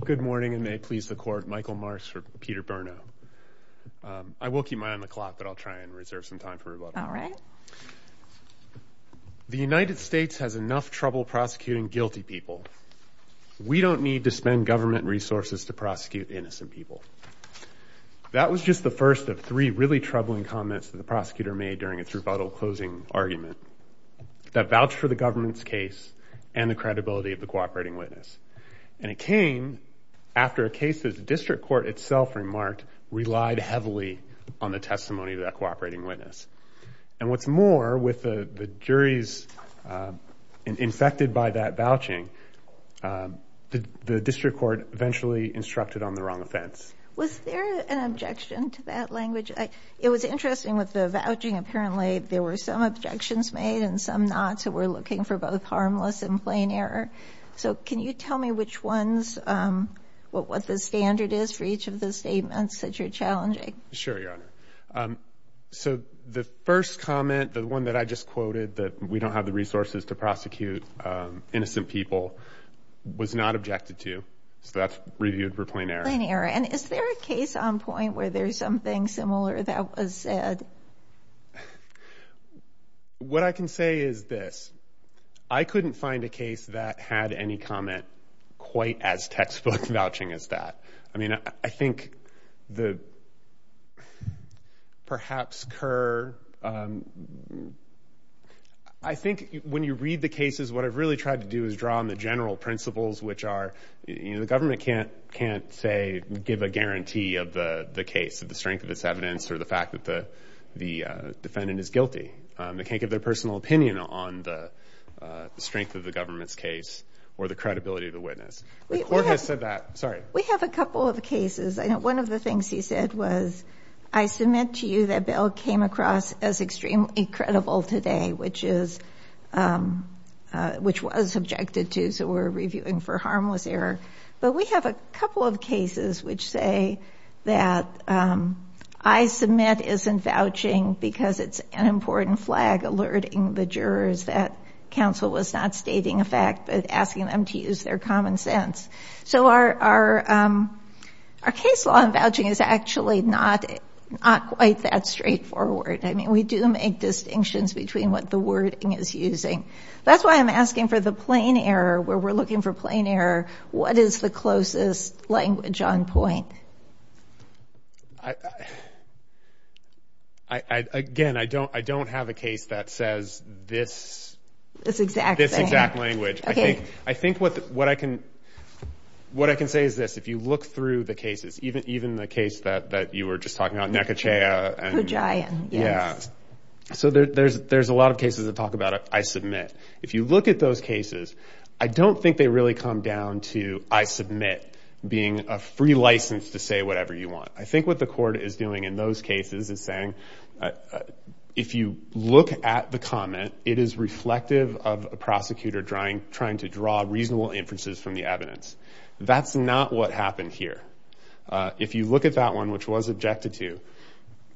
The United States has enough trouble prosecuting guilty people. We don't need to spend government resources to prosecute innocent people. That was just the first of three really troubling comments that the prosecutor made during its rebuttal closing argument that vouched for the government's case and the credibility of the cooperating witness. And it came after a case that the district court itself remarked relied heavily on the testimony of that cooperating witness. And what's more, with the juries infected by that vouching, the district court eventually instructed on the wrong offense. Was there an objection to that language? It was interesting with the vouching. Apparently there were some objections made and some not. So we're looking for both harmless and plain error. So can you tell me which ones, what the standard is for each of the statements that you're challenging? Sure, Your Honor. So the first comment, the one that I just quoted, that we don't have the resources to prosecute innocent people, was not objected to. So that's reviewed for plain error. Plain error. And is there a case on point where there's something similar that was said? What I can say is this. I couldn't find a case that had any comment quite as textbook vouching as that. I mean, I think the perhaps Kerr, I think when you read the cases, what I've really tried to do is draw on the general principles, which are, you know, the government can't say, give a guarantee of the case, of the strength of its evidence or the fact that the defendant is guilty. They can't give their personal opinion on the strength of the government's case or the credibility of the witness. The court has said that. Sorry. We have a couple of cases. One of the things he said was, I submit to you that Bill came across as extremely credible today, which was objected to. So we're reviewing for harmless error. But we have a couple of cases which say that I submit isn't vouching because it's an important flag alerting the jurors that counsel was not stating a fact but asking them to use their common sense. So our case law in vouching is actually not quite that straightforward. I mean, we do make distinctions between what the wording is using. That's why I'm asking for the plain error, where we're looking for plain error. What is the closest language on point? Again, I don't have a case that says this exact language. I think what I can say is this. If you look through the cases, even the case that you were just talking about, Nekocea. Kujayan. Yeah. So there's a lot of cases that talk about I submit. If you look at those cases, I don't think they really come down to I submit being a free license to say whatever you want. I think what the court is doing in those cases is saying, if you look at the comment, it is reflective of a prosecutor trying to draw reasonable inferences from the evidence. That's not what happened here. If you look at that one, which was objected to,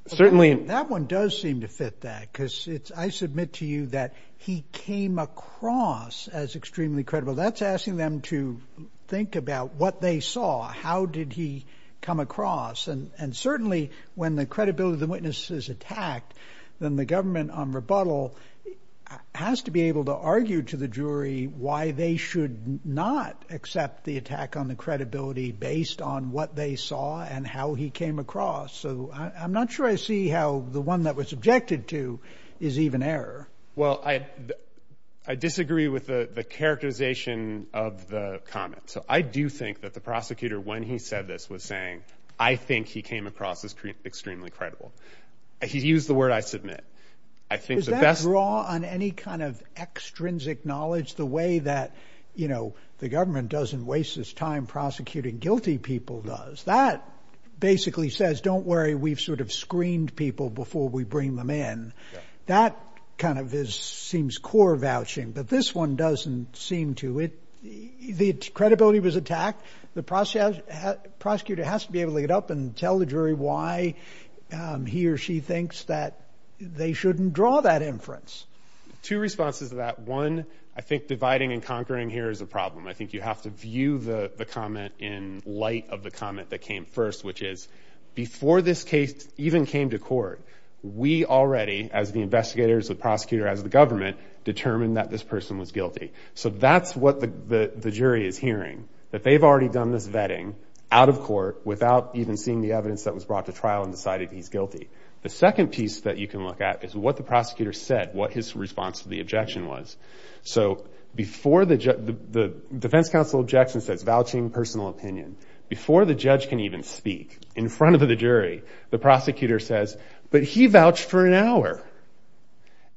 certainly... That one does seem to fit that because I submit to you that he came across as extremely credible. That's asking them to think about what they saw. How did he come across? And certainly, when the credibility of the witness is attacked, then the government on rebuttal has to be able to argue to the jury why they should not accept the attack on the credibility based on what they saw and how he came across. So I'm not sure I see how the one that was objected to is even error. Well, I disagree with the characterization of the comment. So I do think that the prosecutor, when he said this, was saying, I think he came across as extremely credible. He used the word I submit. I think the best... Does that draw on any kind of extrinsic knowledge the way that the government doesn't waste his time prosecuting guilty people does? That basically says, don't worry, we've sort of screened people before we bring them in. That kind of seems core vouching, but this one doesn't seem to. The credibility was attacked. The prosecutor has to be able to get up and tell the jury why he or she thinks that they shouldn't draw that inference. Two responses to that. One, I think dividing and conquering here is a problem. I think you have to view the comment in light of the comment that came first, which is before this case even came to court, we already, as the investigators, the prosecutor, as the government, determined that this person was guilty. So that's what the jury is hearing, that they've already done this vetting out of court without even seeing the evidence that was brought to trial and decided he's guilty. The second piece that you can look at is what the prosecutor said, what his response to the objection was. So before the defense counsel objection says vouching personal opinion, before the judge can even speak in front of the jury, the prosecutor says, but he vouched for an hour.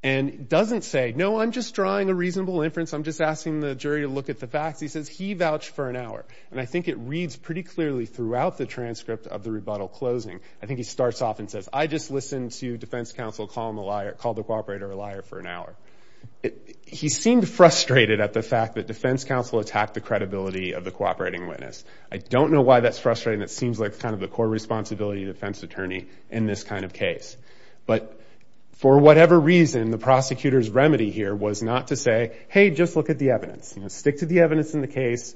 And doesn't say, no, I'm just drawing a reasonable inference, I'm just asking the jury to look at the facts. He says, he vouched for an hour. And I think it reads pretty clearly throughout the transcript of the rebuttal closing. I think he starts off and says, I just listened to defense counsel call the cooperator a liar for an hour. He seemed frustrated at the fact that defense counsel attacked the credibility of the cooperating witness. I don't know why that's frustrating. It seems like kind of the core responsibility of a defense attorney in this kind of case. But for whatever reason, the prosecutor's remedy here was not to say, hey, just look at the evidence. Stick to the evidence in the case.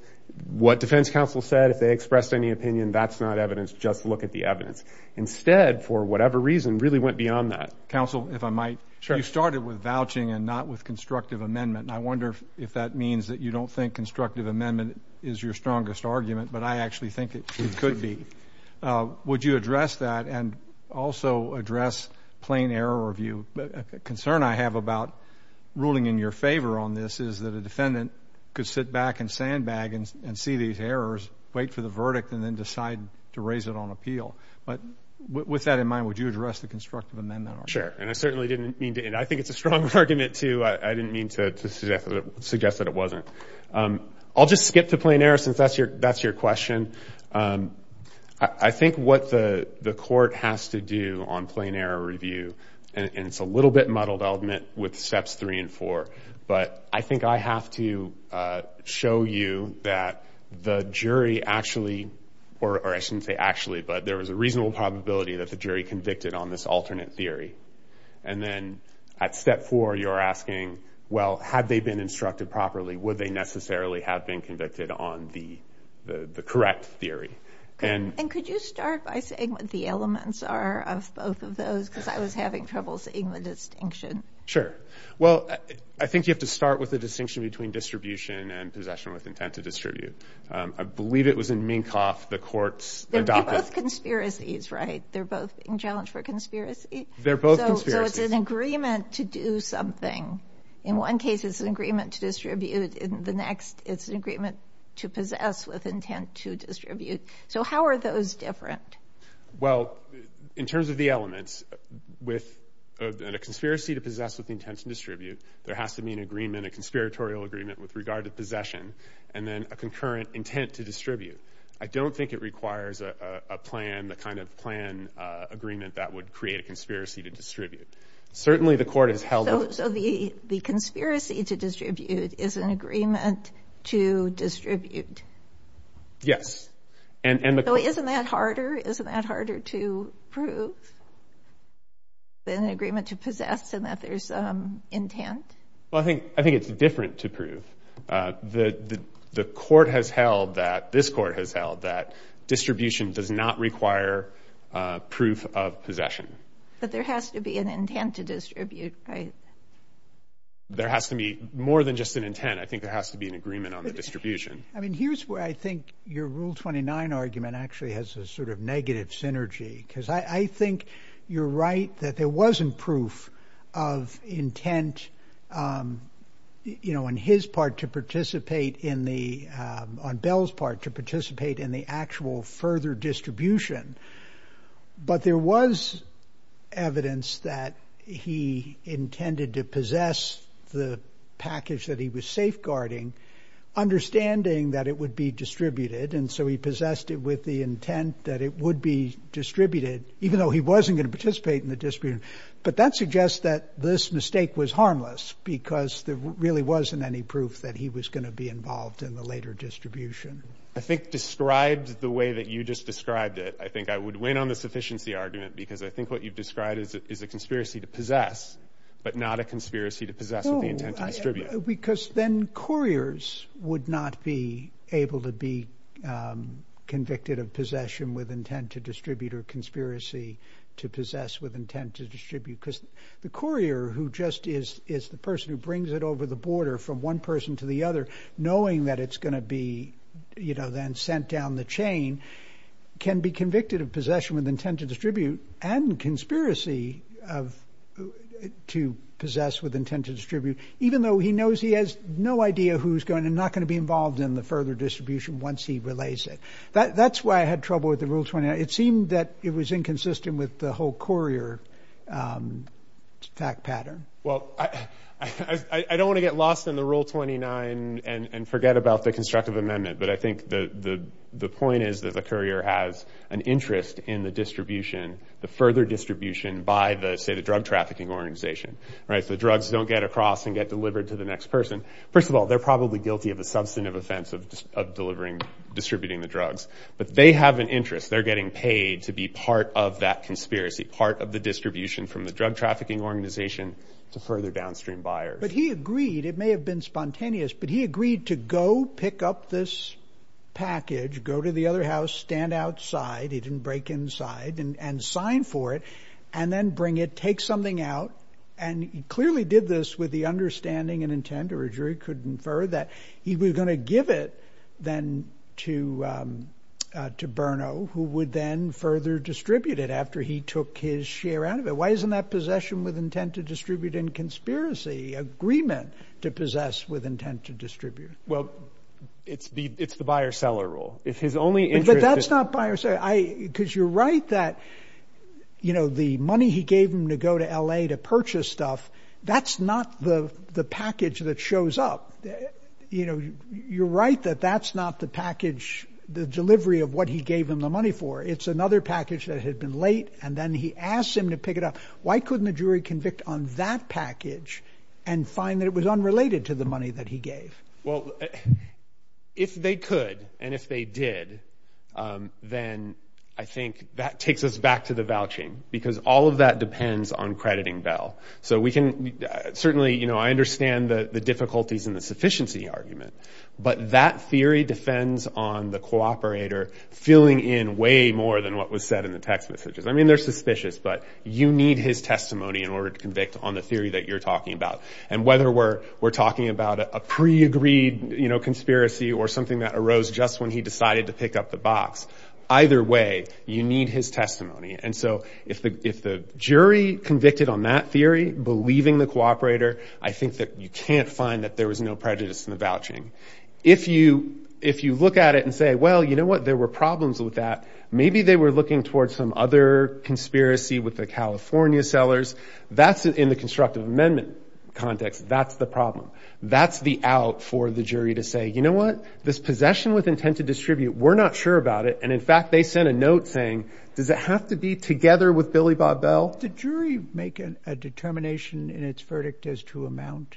What defense counsel said, if they expressed any opinion, that's not evidence. Just look at the evidence. Instead, for whatever reason, really went beyond that. Counsel, if I might, you started with vouching and not with constructive amendment. I wonder if that means that you don't think constructive amendment is your strongest argument, but I actually think it could be. Would you address that and also address plain error of view? A concern I have about ruling in your favor on this is that a defendant could sit back and sandbag and see these errors, wait for the verdict, and then decide to raise it on I think it's a strong argument, too. I didn't mean to suggest that it wasn't. I'll just skip to plain error since that's your question. I think what the court has to do on plain error review, and it's a little bit muddled, I'll admit, with steps three and four, but I think I have to show you that the jury actually, or I shouldn't say actually, but there was a reasonable probability that the jury convicted on this alternate theory. And then at step four, you're asking, well, had they been instructed properly, would they necessarily have been convicted on the correct theory? And could you start by saying what the elements are of both of those? Because I was having trouble seeing the distinction. Sure. Well, I think you have to start with the distinction between distribution and possession with intent to distribute. I believe it was in Minkoff, the court's adopted- They're both conspiracies, right? They're both in challenge for conspiracy? They're both conspiracies. So it's an agreement to do something. In one case, it's an agreement to distribute. In the next, it's an agreement to possess with intent to distribute. So how are those different? Well, in terms of the elements, with a conspiracy to possess with intent to distribute, there has to be an agreement, a conspiratorial agreement with regard to possession, and then a concurrent intent to distribute. I don't think it requires a plan, the kind of plan agreement that would create a conspiracy to distribute. Certainly the court has held- So the conspiracy to distribute is an agreement to distribute? Yes. And the- So isn't that harder? Isn't that harder to prove than an agreement to possess and that there's intent? Well, I think it's different to prove. The court has held that, this court has held that distribution does not require proof of possession. But there has to be an intent to distribute, right? There has to be more than just an intent. I think there has to be an agreement on the distribution. I mean, here's where I think your Rule 29 argument actually has a sort of negative synergy, because I think you're right that there wasn't proof of intent, you know, on his part to participate in the- on Bell's part to participate in the actual further distribution. But there was evidence that he intended to possess the package that he was safeguarding, understanding that it would be distributed, and so he possessed it with the intent that it would be distributed, even though he wasn't going to participate in the distribution. But that suggests that this mistake was harmless because there really wasn't any proof that he was going to be involved in the later distribution. I think described the way that you just described it, I think I would win on the sufficiency argument because I think what you've described is a conspiracy to possess, but not a conspiracy to possess with the intent to distribute. No, because then couriers would not be able to be convicted of possession with intent to distribute or conspiracy to possess with intent to distribute, because the courier who just is the person who brings it over the border from one person to the other, knowing that it's going to be, you know, then sent down the chain, can be convicted of possession with intent to distribute and conspiracy of- to possess with intent to distribute, even though he knows he has no idea who's going to be involved in the further distribution once he relays it. That's why I had trouble with the Rule 29. It seemed that it was inconsistent with the whole courier attack pattern. Well, I don't want to get lost in the Rule 29 and forget about the constructive amendment, but I think the point is that the courier has an interest in the distribution, the further distribution by the, say, the drug trafficking organization, right? So the drugs don't get across and get delivered to the next person. First of all, they're probably guilty of a substantive offense of delivering, distributing the drugs, but they have an interest. They're getting paid to be part of that conspiracy, part of the distribution from the drug trafficking organization to further downstream buyers. But he agreed, it may have been spontaneous, but he agreed to go pick up this package, go to the other house, stand outside, he didn't break inside, and sign for it, and then bring it, take something out, and he clearly did this with the understanding and intent, or a jury could infer, that he was going to give it, then, to Berno, who would then further distribute it after he took his share out of it. Why isn't that possession with intent to distribute in conspiracy, agreement to possess with intent to distribute? Well, it's the buyer-seller rule. It's his only interest— But that's not buyer-seller, because you're right that, you know, the money he gave him to go to L.A. to purchase stuff, that's not the package that shows up. You know, you're right that that's not the package, the delivery of what he gave him the money for. It's another package that had been late, and then he asks him to pick it up. Why couldn't the jury convict on that package and find that it was unrelated to the money that he gave? Well, if they could, and if they did, then I think that takes us back to the vouching, because all of that depends on crediting Bell. So we can—certainly, you know, I understand the difficulties in the sufficiency argument, but that theory defends on the cooperator filling in way more than what was said in the text messages. I mean, they're suspicious, but you need his testimony in order to convict on the theory that you're talking about. And whether we're talking about a pre-agreed, you know, conspiracy or something that arose just when he decided to pick up the box, either way, you need his testimony. And so if the jury convicted on that theory, believing the cooperator, I think that you can't find that there was no prejudice in the vouching. If you look at it and say, well, you know what, there were problems with that. Maybe they were looking towards some other conspiracy with the California sellers. That's in the constructive amendment context. That's the problem. That's the out for the jury to say, you know what, this possession with intent to distribute, we're not sure about it. And in fact, they sent a note saying, does it have to be together with Billy Bob Bell? Did jury make a determination in its verdict as to amount?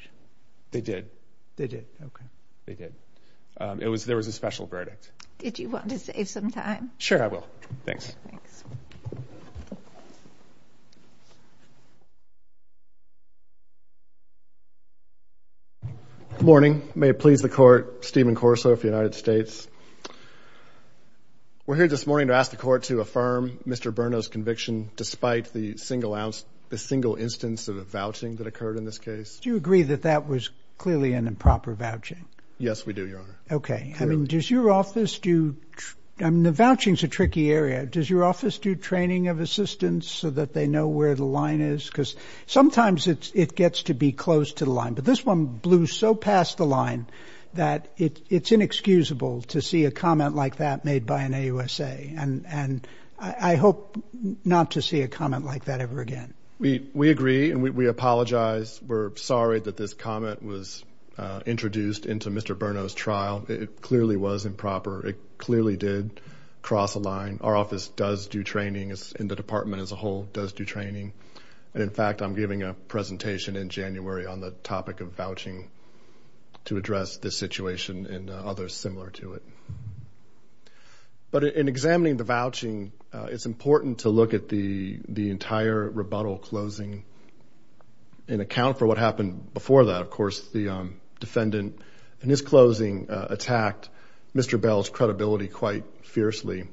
They did. They did. Okay. They did. It was—there was a special verdict. Did you want to save some time? Sure, I will. Thanks. Good morning. May it please the court, Stephen Corso of the United States. We're here this morning to ask the court to affirm Mr. Berno's conviction despite the single instance of a vouching that occurred in this case. Do you agree that that was clearly an improper vouching? Yes, we do, Your Honor. Okay. I mean, does your office do—I mean, the vouching's a tricky area. Does your office do training of assistants so that they know where the line is? Because sometimes it gets to be close to the line. But this one blew so past the line that it's inexcusable to see a comment like that made by an AUSA. And I hope not to see a comment like that ever again. We agree, and we apologize. We're sorry that this comment was introduced into Mr. Berno's training and the Department as a whole does do training. And in fact, I'm giving a presentation in January on the topic of vouching to address this situation and others similar to it. But in examining the vouching, it's important to look at the entire rebuttal closing in account for what happened before that. Of course, the defendant in his closing attacked Mr. Bell's credibility quite fiercely,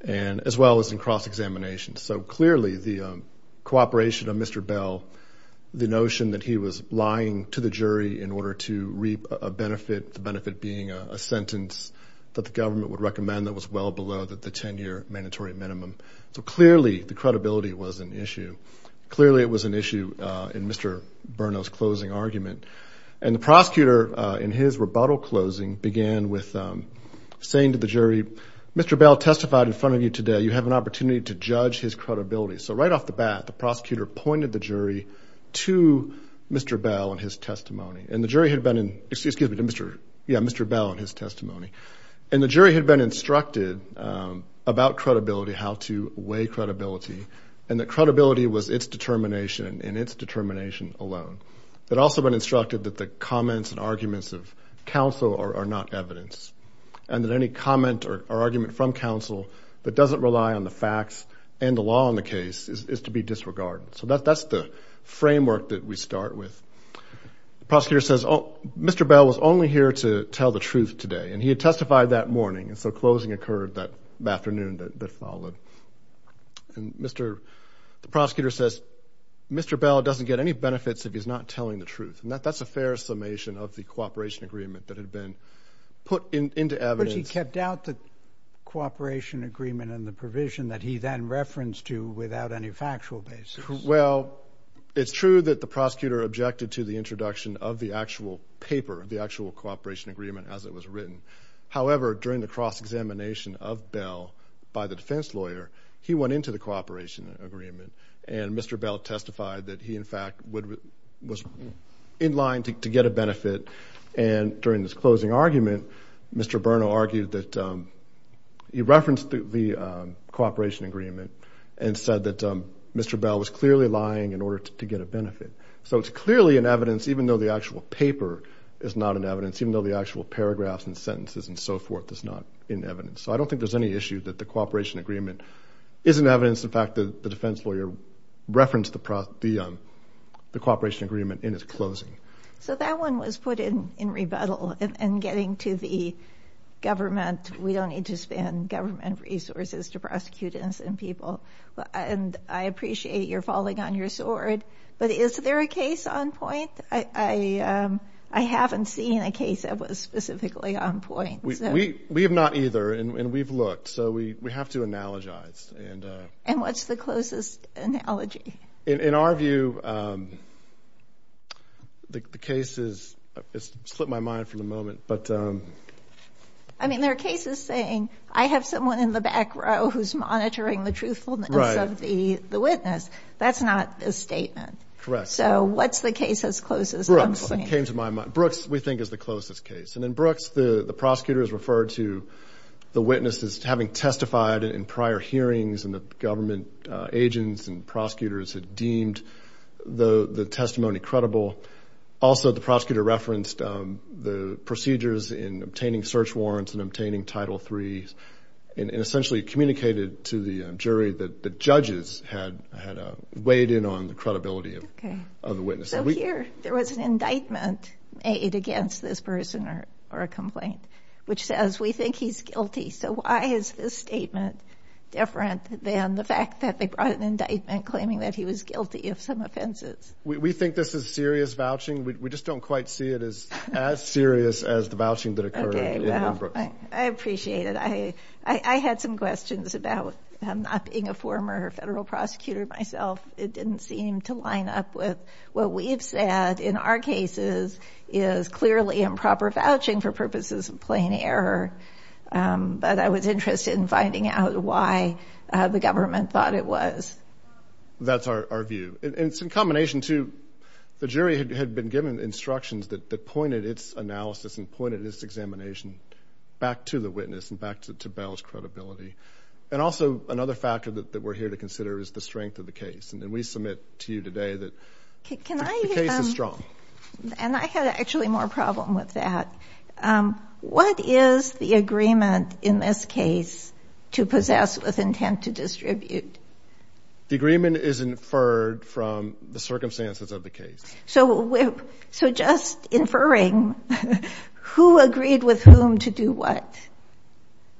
as well as in cross-examination. So clearly, the cooperation of Mr. Bell, the notion that he was lying to the jury in order to reap a benefit, the benefit being a sentence that the government would recommend that was well below the 10-year mandatory minimum. So clearly, the credibility was an issue. Clearly, it was an issue in Mr. Berno's closing argument. And the prosecutor, in his rebuttal closing, began with saying to the jury, Mr. Bell testified in front of you today. You have an opportunity to judge his credibility. So right off the bat, the prosecutor pointed the jury to Mr. Bell and his testimony. And the jury had been instructed about credibility, how to weigh credibility, and that credibility was its that the comments and arguments of counsel are not evidence, and that any comment or argument from counsel that doesn't rely on the facts and the law in the case is to be disregarded. So that's the framework that we start with. The prosecutor says, Mr. Bell was only here to tell the truth today, and he had testified that morning, and so closing occurred that afternoon that followed. And the prosecutor says, Mr. Bell doesn't get any benefits if he's not telling the truth. And that's a fair summation of the cooperation agreement that had been put into evidence. But he kept out the cooperation agreement and the provision that he then referenced to without any factual basis. Well, it's true that the prosecutor objected to the introduction of the actual paper, the actual cooperation agreement as it was written. However, during the cross-examination of Bell by the defense lawyer, he went into the cooperation agreement, and Mr. Bell testified that he, in fact, was in line to get a benefit. And during this closing argument, Mr. Berno argued that he referenced the cooperation agreement and said that Mr. Bell was clearly lying in order to get a benefit. So it's clearly in evidence, even though the actual paper is not in evidence, even though the actual paragraphs and sentences and so forth is not in evidence. So I don't think there's any issue that the cooperation agreement is in evidence. In fact, the defense lawyer referenced the cooperation agreement in its closing. So that one was put in rebuttal in getting to the government. We don't need to spend government resources to prosecute innocent people. And I appreciate you're falling on your sword, but is there a case on point? I haven't seen a case that was specifically on point. We have not either, and we've looked. So we have to analogize. And what's the closest analogy? In our view, the case is, it's slipped my mind for the moment, but... I mean, there are cases saying, I have someone in the back row who's monitoring the truthfulness of the witness. That's not a statement. So what's the case that's closest on point? Brooks, it came to my mind. Brooks, we think, is the closest case. And in Brooks, the prosecutor is referred to the witness as having testified in prior hearings, and the government agents and prosecutors had deemed the testimony credible. Also, the prosecutor referenced the procedures in obtaining search warrants and obtaining Title III, and essentially communicated to the jury that the judges had weighed in on the credibility of the witness. So here, there was an indictment made against this person or a complaint, which says, we think he's guilty. So why is this statement different than the fact that they brought an indictment claiming that he was guilty of some offenses? We think this is serious vouching. We just don't quite see it as serious as the vouching that occurred in Brooks. I appreciate it. I had some questions about not being a former federal prosecutor myself. It didn't seem to line up with what we've said. In our cases, it is clearly improper vouching for purposes of plain error. But I was interested in finding out why the government thought it was. That's our view. And it's in combination, too. The jury had been given instructions that pointed its analysis and pointed its examination back to the witness and back to Bell's credibility. And also, another factor that we're here to consider is the strength of the case. And we submit to you today that the case is strong. And I had actually more problem with that. What is the agreement in this case to possess with intent to distribute? The agreement is inferred from the circumstances of the case. So just inferring, who agreed with whom to do what?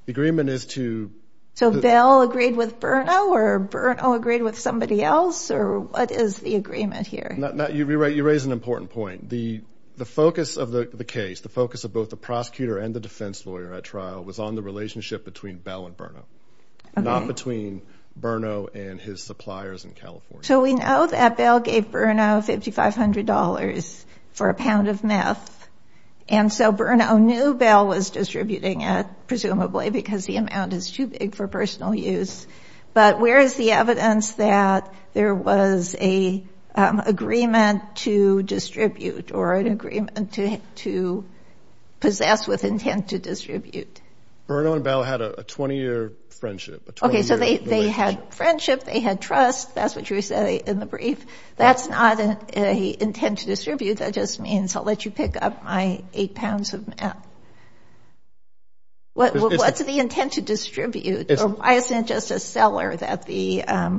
The agreement is to... So Bell agreed with Berno, or Berno agreed with somebody else? Or what is the agreement here? You raise an important point. The focus of the case, the focus of both the prosecutor and the defense lawyer at trial, was on the relationship between Bell and Berno, not between Berno and his suppliers in California. So we know that Bell gave Berno $5,500 for a pound of meth. And so Berno knew Bell was for personal use. But where is the evidence that there was a agreement to distribute, or an agreement to possess with intent to distribute? Berno and Bell had a 20-year friendship, a 20-year relationship. Okay, so they had friendship, they had trust. That's what you said in the brief. That's not an intent to distribute. That just means, I'll let you pick up my eight pounds of meth. What's the intent to distribute? Or why isn't it just a seller that Bell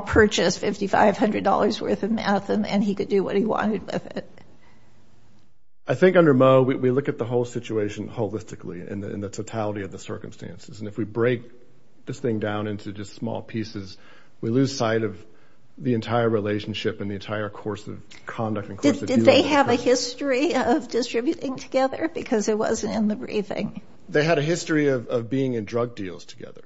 purchased $5,500 worth of meth and he could do what he wanted with it? I think under Moe, we look at the whole situation holistically, in the totality of the circumstances. And if we break this thing down into just small pieces, we lose sight of the entire relationship and the entire course of conduct and course of dealings. Did they have a history of distributing together? Because it wasn't in the briefing. They had a history of being in drug deals together.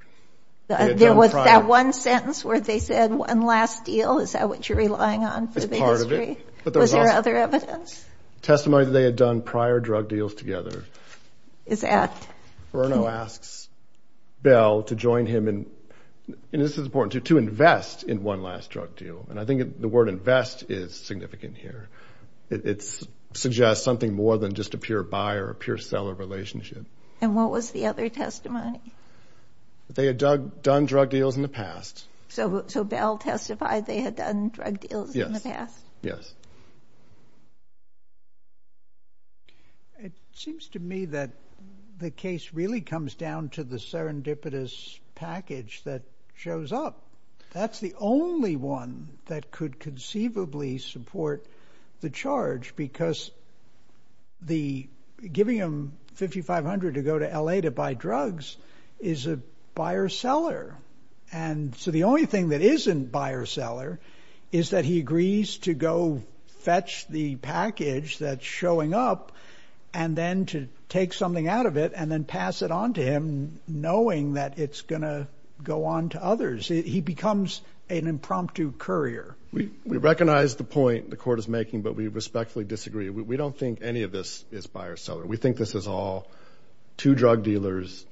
There was that one sentence where they said, one last deal, is that what you're relying on for the history? It's part of it. Was there other evidence? Testimony that they had done prior drug deals together. Is that? Berno asks Bell to join him in, and this is important too, to invest in one last drug deal. And I think the word invest is significant here. It suggests something more than just a pure buyer, a pure seller relationship. And what was the other testimony? They had done drug deals in the past. So Bell testified they had done drug deals in the past? It seems to me that the case really comes down to the serendipitous package that shows up. That's the only one that could conceivably support the charge, because giving him $5,500 to go to L.A. to buy drugs is a buyer-seller. And so the only thing that isn't buyer-seller is that he agrees to go fetch the package that's showing up and then to take something out of it and then pass it on to him, knowing that it's going to go on to others. He becomes an impromptu courier. We recognize the point the court is making, but we respectfully disagree. We don't think any of this is buyer-seller. We think this is all two drug dealers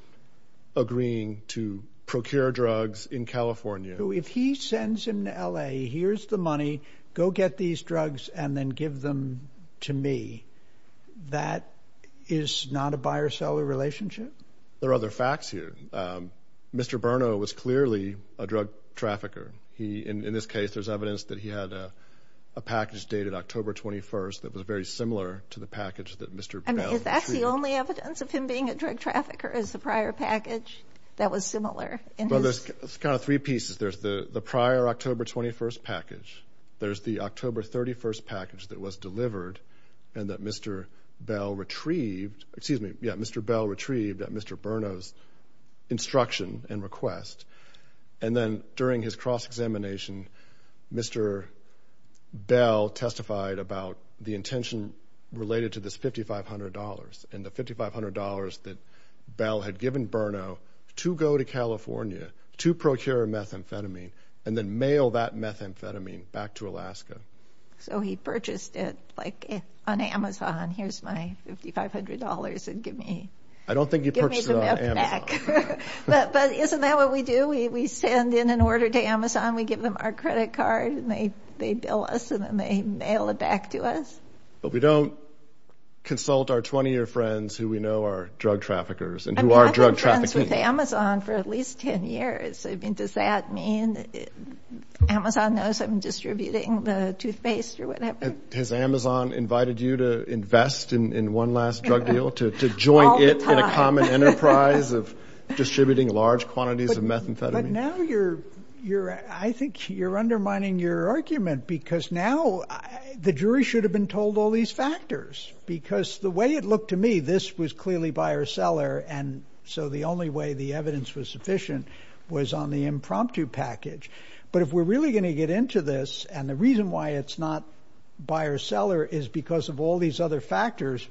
agreeing to procure drugs in California. If he sends him to L.A., here's the money, go get these drugs and then give them to me, that is not a buyer-seller relationship? There are other facts here. Mr. Berno was clearly a drug trafficker. In this case, there's evidence that he had a package dated October 21st that was very similar to the package that Mr. Bell retrieved. I mean, is that the only evidence of him being a drug trafficker, is the prior package that was similar in his... Well, there's kind of three pieces. There's the prior October 21st package. There's the October 31st package that was delivered and that Mr. Bell retrieved. Excuse me, yeah, Mr. Bell retrieved at Mr. Berno's instruction and request. And then during his cross-examination, Mr. Bell testified about the intention related to this $5,500 and the $5,500 that Bell had given Berno to go to California to procure a methamphetamine and then mail that methamphetamine back to Alaska. So he purchased it, like, on Amazon. Here's my $5,500 and give me the methamphetamine. I don't think he purchased it on Amazon. But isn't that what we do? We send in an order to Amazon, we give them our credit card, and they bill us and then they mail it back to us? But we don't consult our 20-year friends who we know are drug traffickers and who are drug trafficking. I've been friends with Amazon for at least 10 years. I mean, does that mean Amazon knows I'm distributing the toothpaste or whatever? Has Amazon invited you to invest in one last drug deal, to join it in a common enterprise of distributing large quantities of methamphetamine? But now you're, I think you're undermining your argument because now the jury should have been told all these factors. Because the way it looked to me, this was clearly buyer-seller and so the only way the evidence was sufficient was on the impromptu package. But if we're really going to get into this and the reason why it's not buyer-seller is because of all these other factors,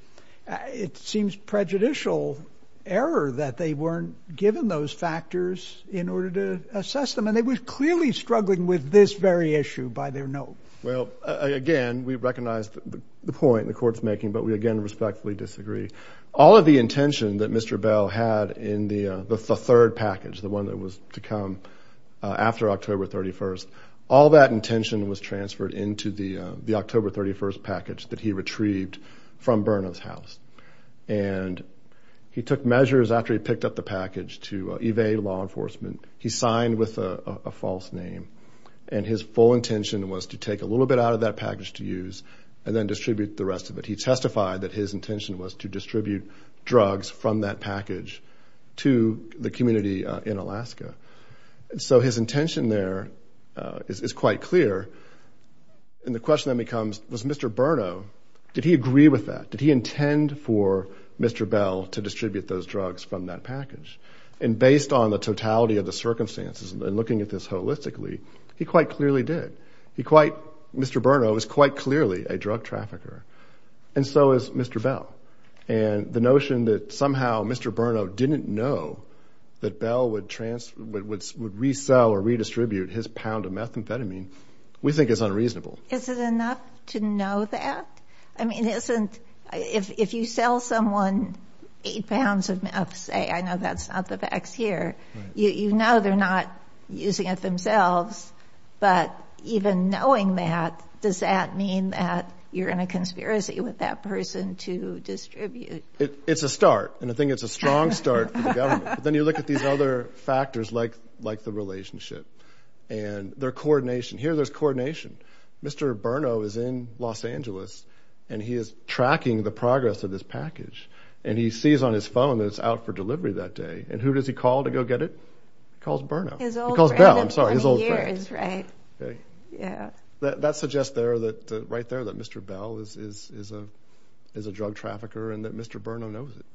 it seems prejudicial error that they weren't given those factors in order to assess them. And they were clearly struggling with this very issue by their note. Well, again, we recognize the point the court's making, but we again respectfully disagree. All of the intention that Mr. Bell had in the third package, the one that was to come after October 31st, all that intention was transferred into the October 31st package that he retrieved from Burnham's house. And he took measures after he picked up the package to evade law enforcement. He signed with a false name and his full intention was to take a little bit out of that package to use and then distribute the rest of it. He testified that his intention was to distribute drugs from that package to the community in So his intention there is quite clear and the question then becomes, was Mr. Burnham, did he agree with that? Did he intend for Mr. Bell to distribute those drugs from that package? And based on the totality of the circumstances and looking at this holistically, he quite clearly did. Mr. Burnham was quite clearly a drug trafficker and so is Mr. Bell. And the notion that somehow Mr. Burnham didn't know that Bell would resell or redistribute his pound of methamphetamine, we think is unreasonable. Is it enough to know that? I mean, if you sell someone eight pounds of meth, say, I know that's not the facts here, you know they're not using it themselves, but even knowing that, does that mean that you're in a conspiracy with that person to distribute? It's a start and I think it's a strong start for the government. Then you look at these other factors like the relationship and their coordination. Here there's coordination. Mr. Burnham is in Los Angeles and he is tracking the progress of this package and he sees on his phone that it's out for delivery that day and who does he call to go get it? He calls Burnham. He calls Bell, I'm sorry. His old friend. His old friend. Right. Yeah. That suggests there, right there, that Mr. Bell is a drug trafficker and that Mr. Burnham knows it.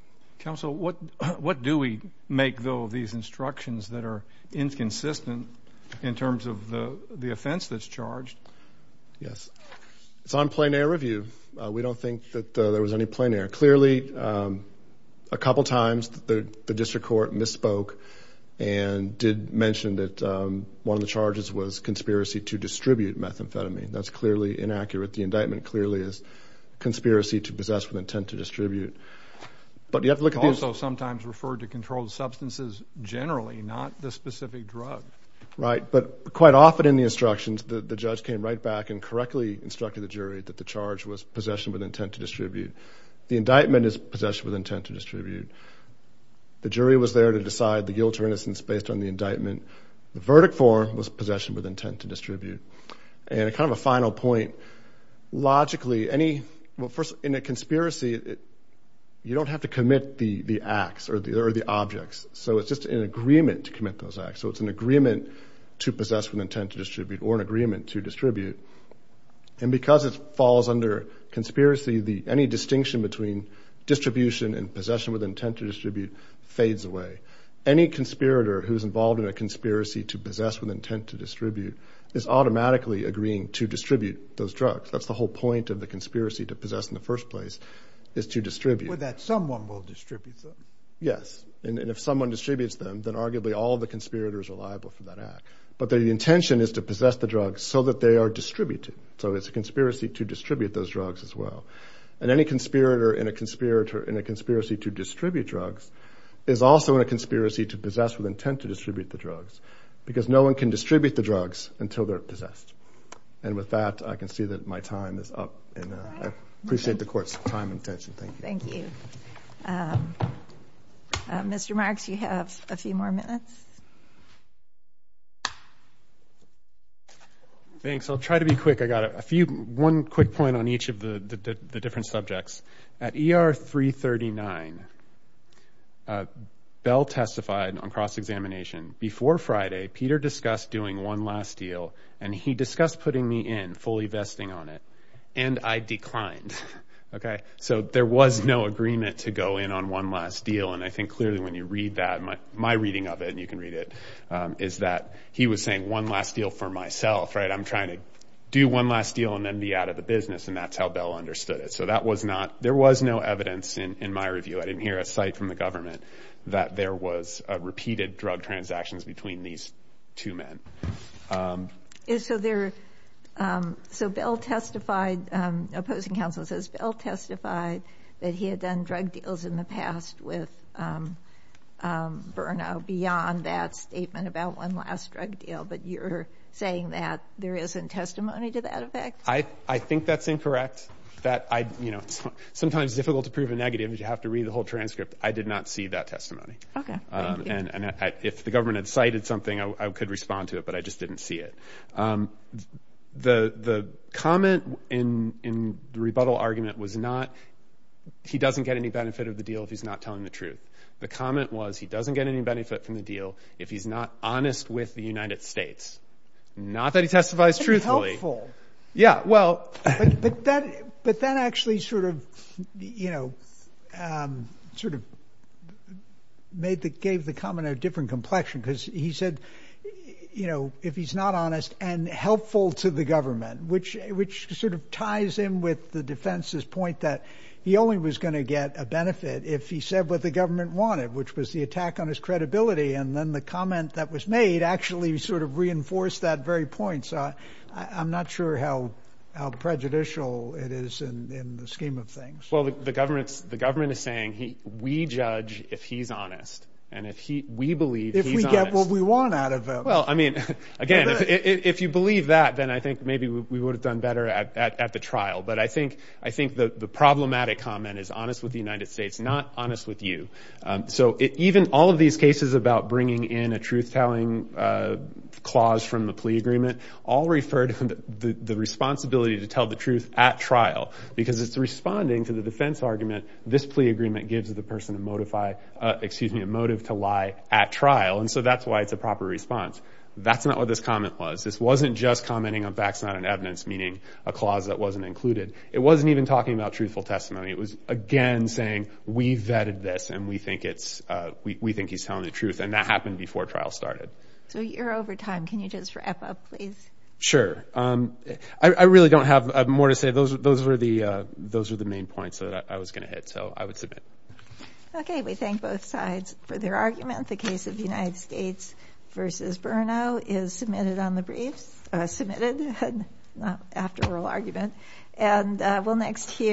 Counsel, what do we make, though, of these instructions that are inconsistent in terms of the offense that's charged? Yes. It's on plein air review. We don't think that there was any plein air. Clearly, a couple times the district court misspoke and did mention that one of the charges was conspiracy to distribute methamphetamine. That's clearly inaccurate. The indictment clearly is conspiracy to possess with intent to distribute. But you have to look at these- Also sometimes referred to controlled substances generally, not the specific drug. Right. But quite often in the instructions, the judge came right back and correctly instructed the jury that the charge was possession with intent to distribute. The indictment is possession with intent to distribute. The jury was there to decide the guilt or innocence based on the indictment. The verdict form was possession with intent to distribute. And kind of a final point, logically, any- Well, first, in a conspiracy, you don't have to commit the acts or the objects. So it's just an agreement to commit those acts. So it's an agreement to possess with intent to distribute or an agreement to distribute. And because it falls under conspiracy, any distinction between distribution and possession with intent to distribute fades away. Any conspirator who's involved in a conspiracy to possess with intent to distribute is automatically agreeing to distribute those drugs. That's the whole point of the conspiracy to possess in the first place, is to distribute. Well, that someone will distribute them. Yes. And if someone distributes them, then arguably all the conspirators are liable for that act. But the intention is to possess the drugs so that they are distributed. So it's a conspiracy to distribute those drugs as well. And any conspirator in a conspiracy to distribute drugs is also in a conspiracy to possess with intent to distribute the drugs. Because no one can distribute the drugs until they're possessed. And with that, I can see that my time is up and I appreciate the court's time and attention. Thank you. Thank you. Mr. Marks, you have a few more minutes. Thanks. I'll try to be quick. I got one quick point on each of the different subjects. At ER 339, Bell testified on cross-examination, before Friday, Peter discussed doing one last deal and he discussed putting me in, fully vesting on it. And I declined. So there was no agreement to go in on one last deal. And I think clearly when you read that, my reading of it, and you can read it, is that he was saying one last deal for myself. I'm trying to do one last deal and then be out of the business. And that's how Bell understood it. So that was not, there was no evidence in my review, I didn't hear a cite from the government, that there was a repeated drug transactions between these two men. So Bell testified, opposing counsel says, Bell testified that he had done drug deals in the past with Burno beyond that statement about one last drug deal. But you're saying that there isn't testimony to that effect? I think that's incorrect. Sometimes it's difficult to prove a negative, but you have to read the whole transcript. I did not see that testimony. If the government had cited something, I could respond to it, but I just didn't see it. The comment in the rebuttal argument was not, he doesn't get any benefit of the deal if he's not telling the truth. The comment was, he doesn't get any benefit from the deal if he's not honest with the United States. Not that he testifies truthfully. That's helpful. Yeah. Well. But that, but that actually sort of, you know, sort of made the, gave the comment a different complexion because he said, you know, if he's not honest and helpful to the government, which, which sort of ties in with the defense's point that he only was going to get a benefit if he said what the government wanted, which was the attack on his credibility. And then the comment that was made actually sort of reinforced that very point. So I, I'm not sure how, how prejudicial it is in the scheme of things. Well, the government's, the government is saying he, we judge if he's honest. And if he, we believe he's honest. If we get what we want out of him. Well, I mean, again, if you believe that, then I think maybe we would have done better at the trial. But I think, I think the problematic comment is honest with the United States, not honest with you. So it, even all of these cases about bringing in a truth telling clause from the plea agreement all referred to the responsibility to tell the truth at trial, because it's responding to the defense argument, this plea agreement gives the person to modify, excuse me, a motive to lie at trial. And so that's why it's a proper response. That's not what this comment was. This wasn't just commenting on facts, not on evidence, meaning a clause that wasn't included. It wasn't even talking about truthful testimony. It was, again, saying, we vetted this and we think it's, we think he's telling the truth. And that happened before trial started. So you're over time. Can you just wrap up, please? Sure. I really don't have more to say. Those were the, those were the main points that I was going to hit. So I would submit. Okay. We thank both sides for their argument. The case of the United States versus Brno is submitted on the briefs, submitted, not after oral argument. And we'll next hear.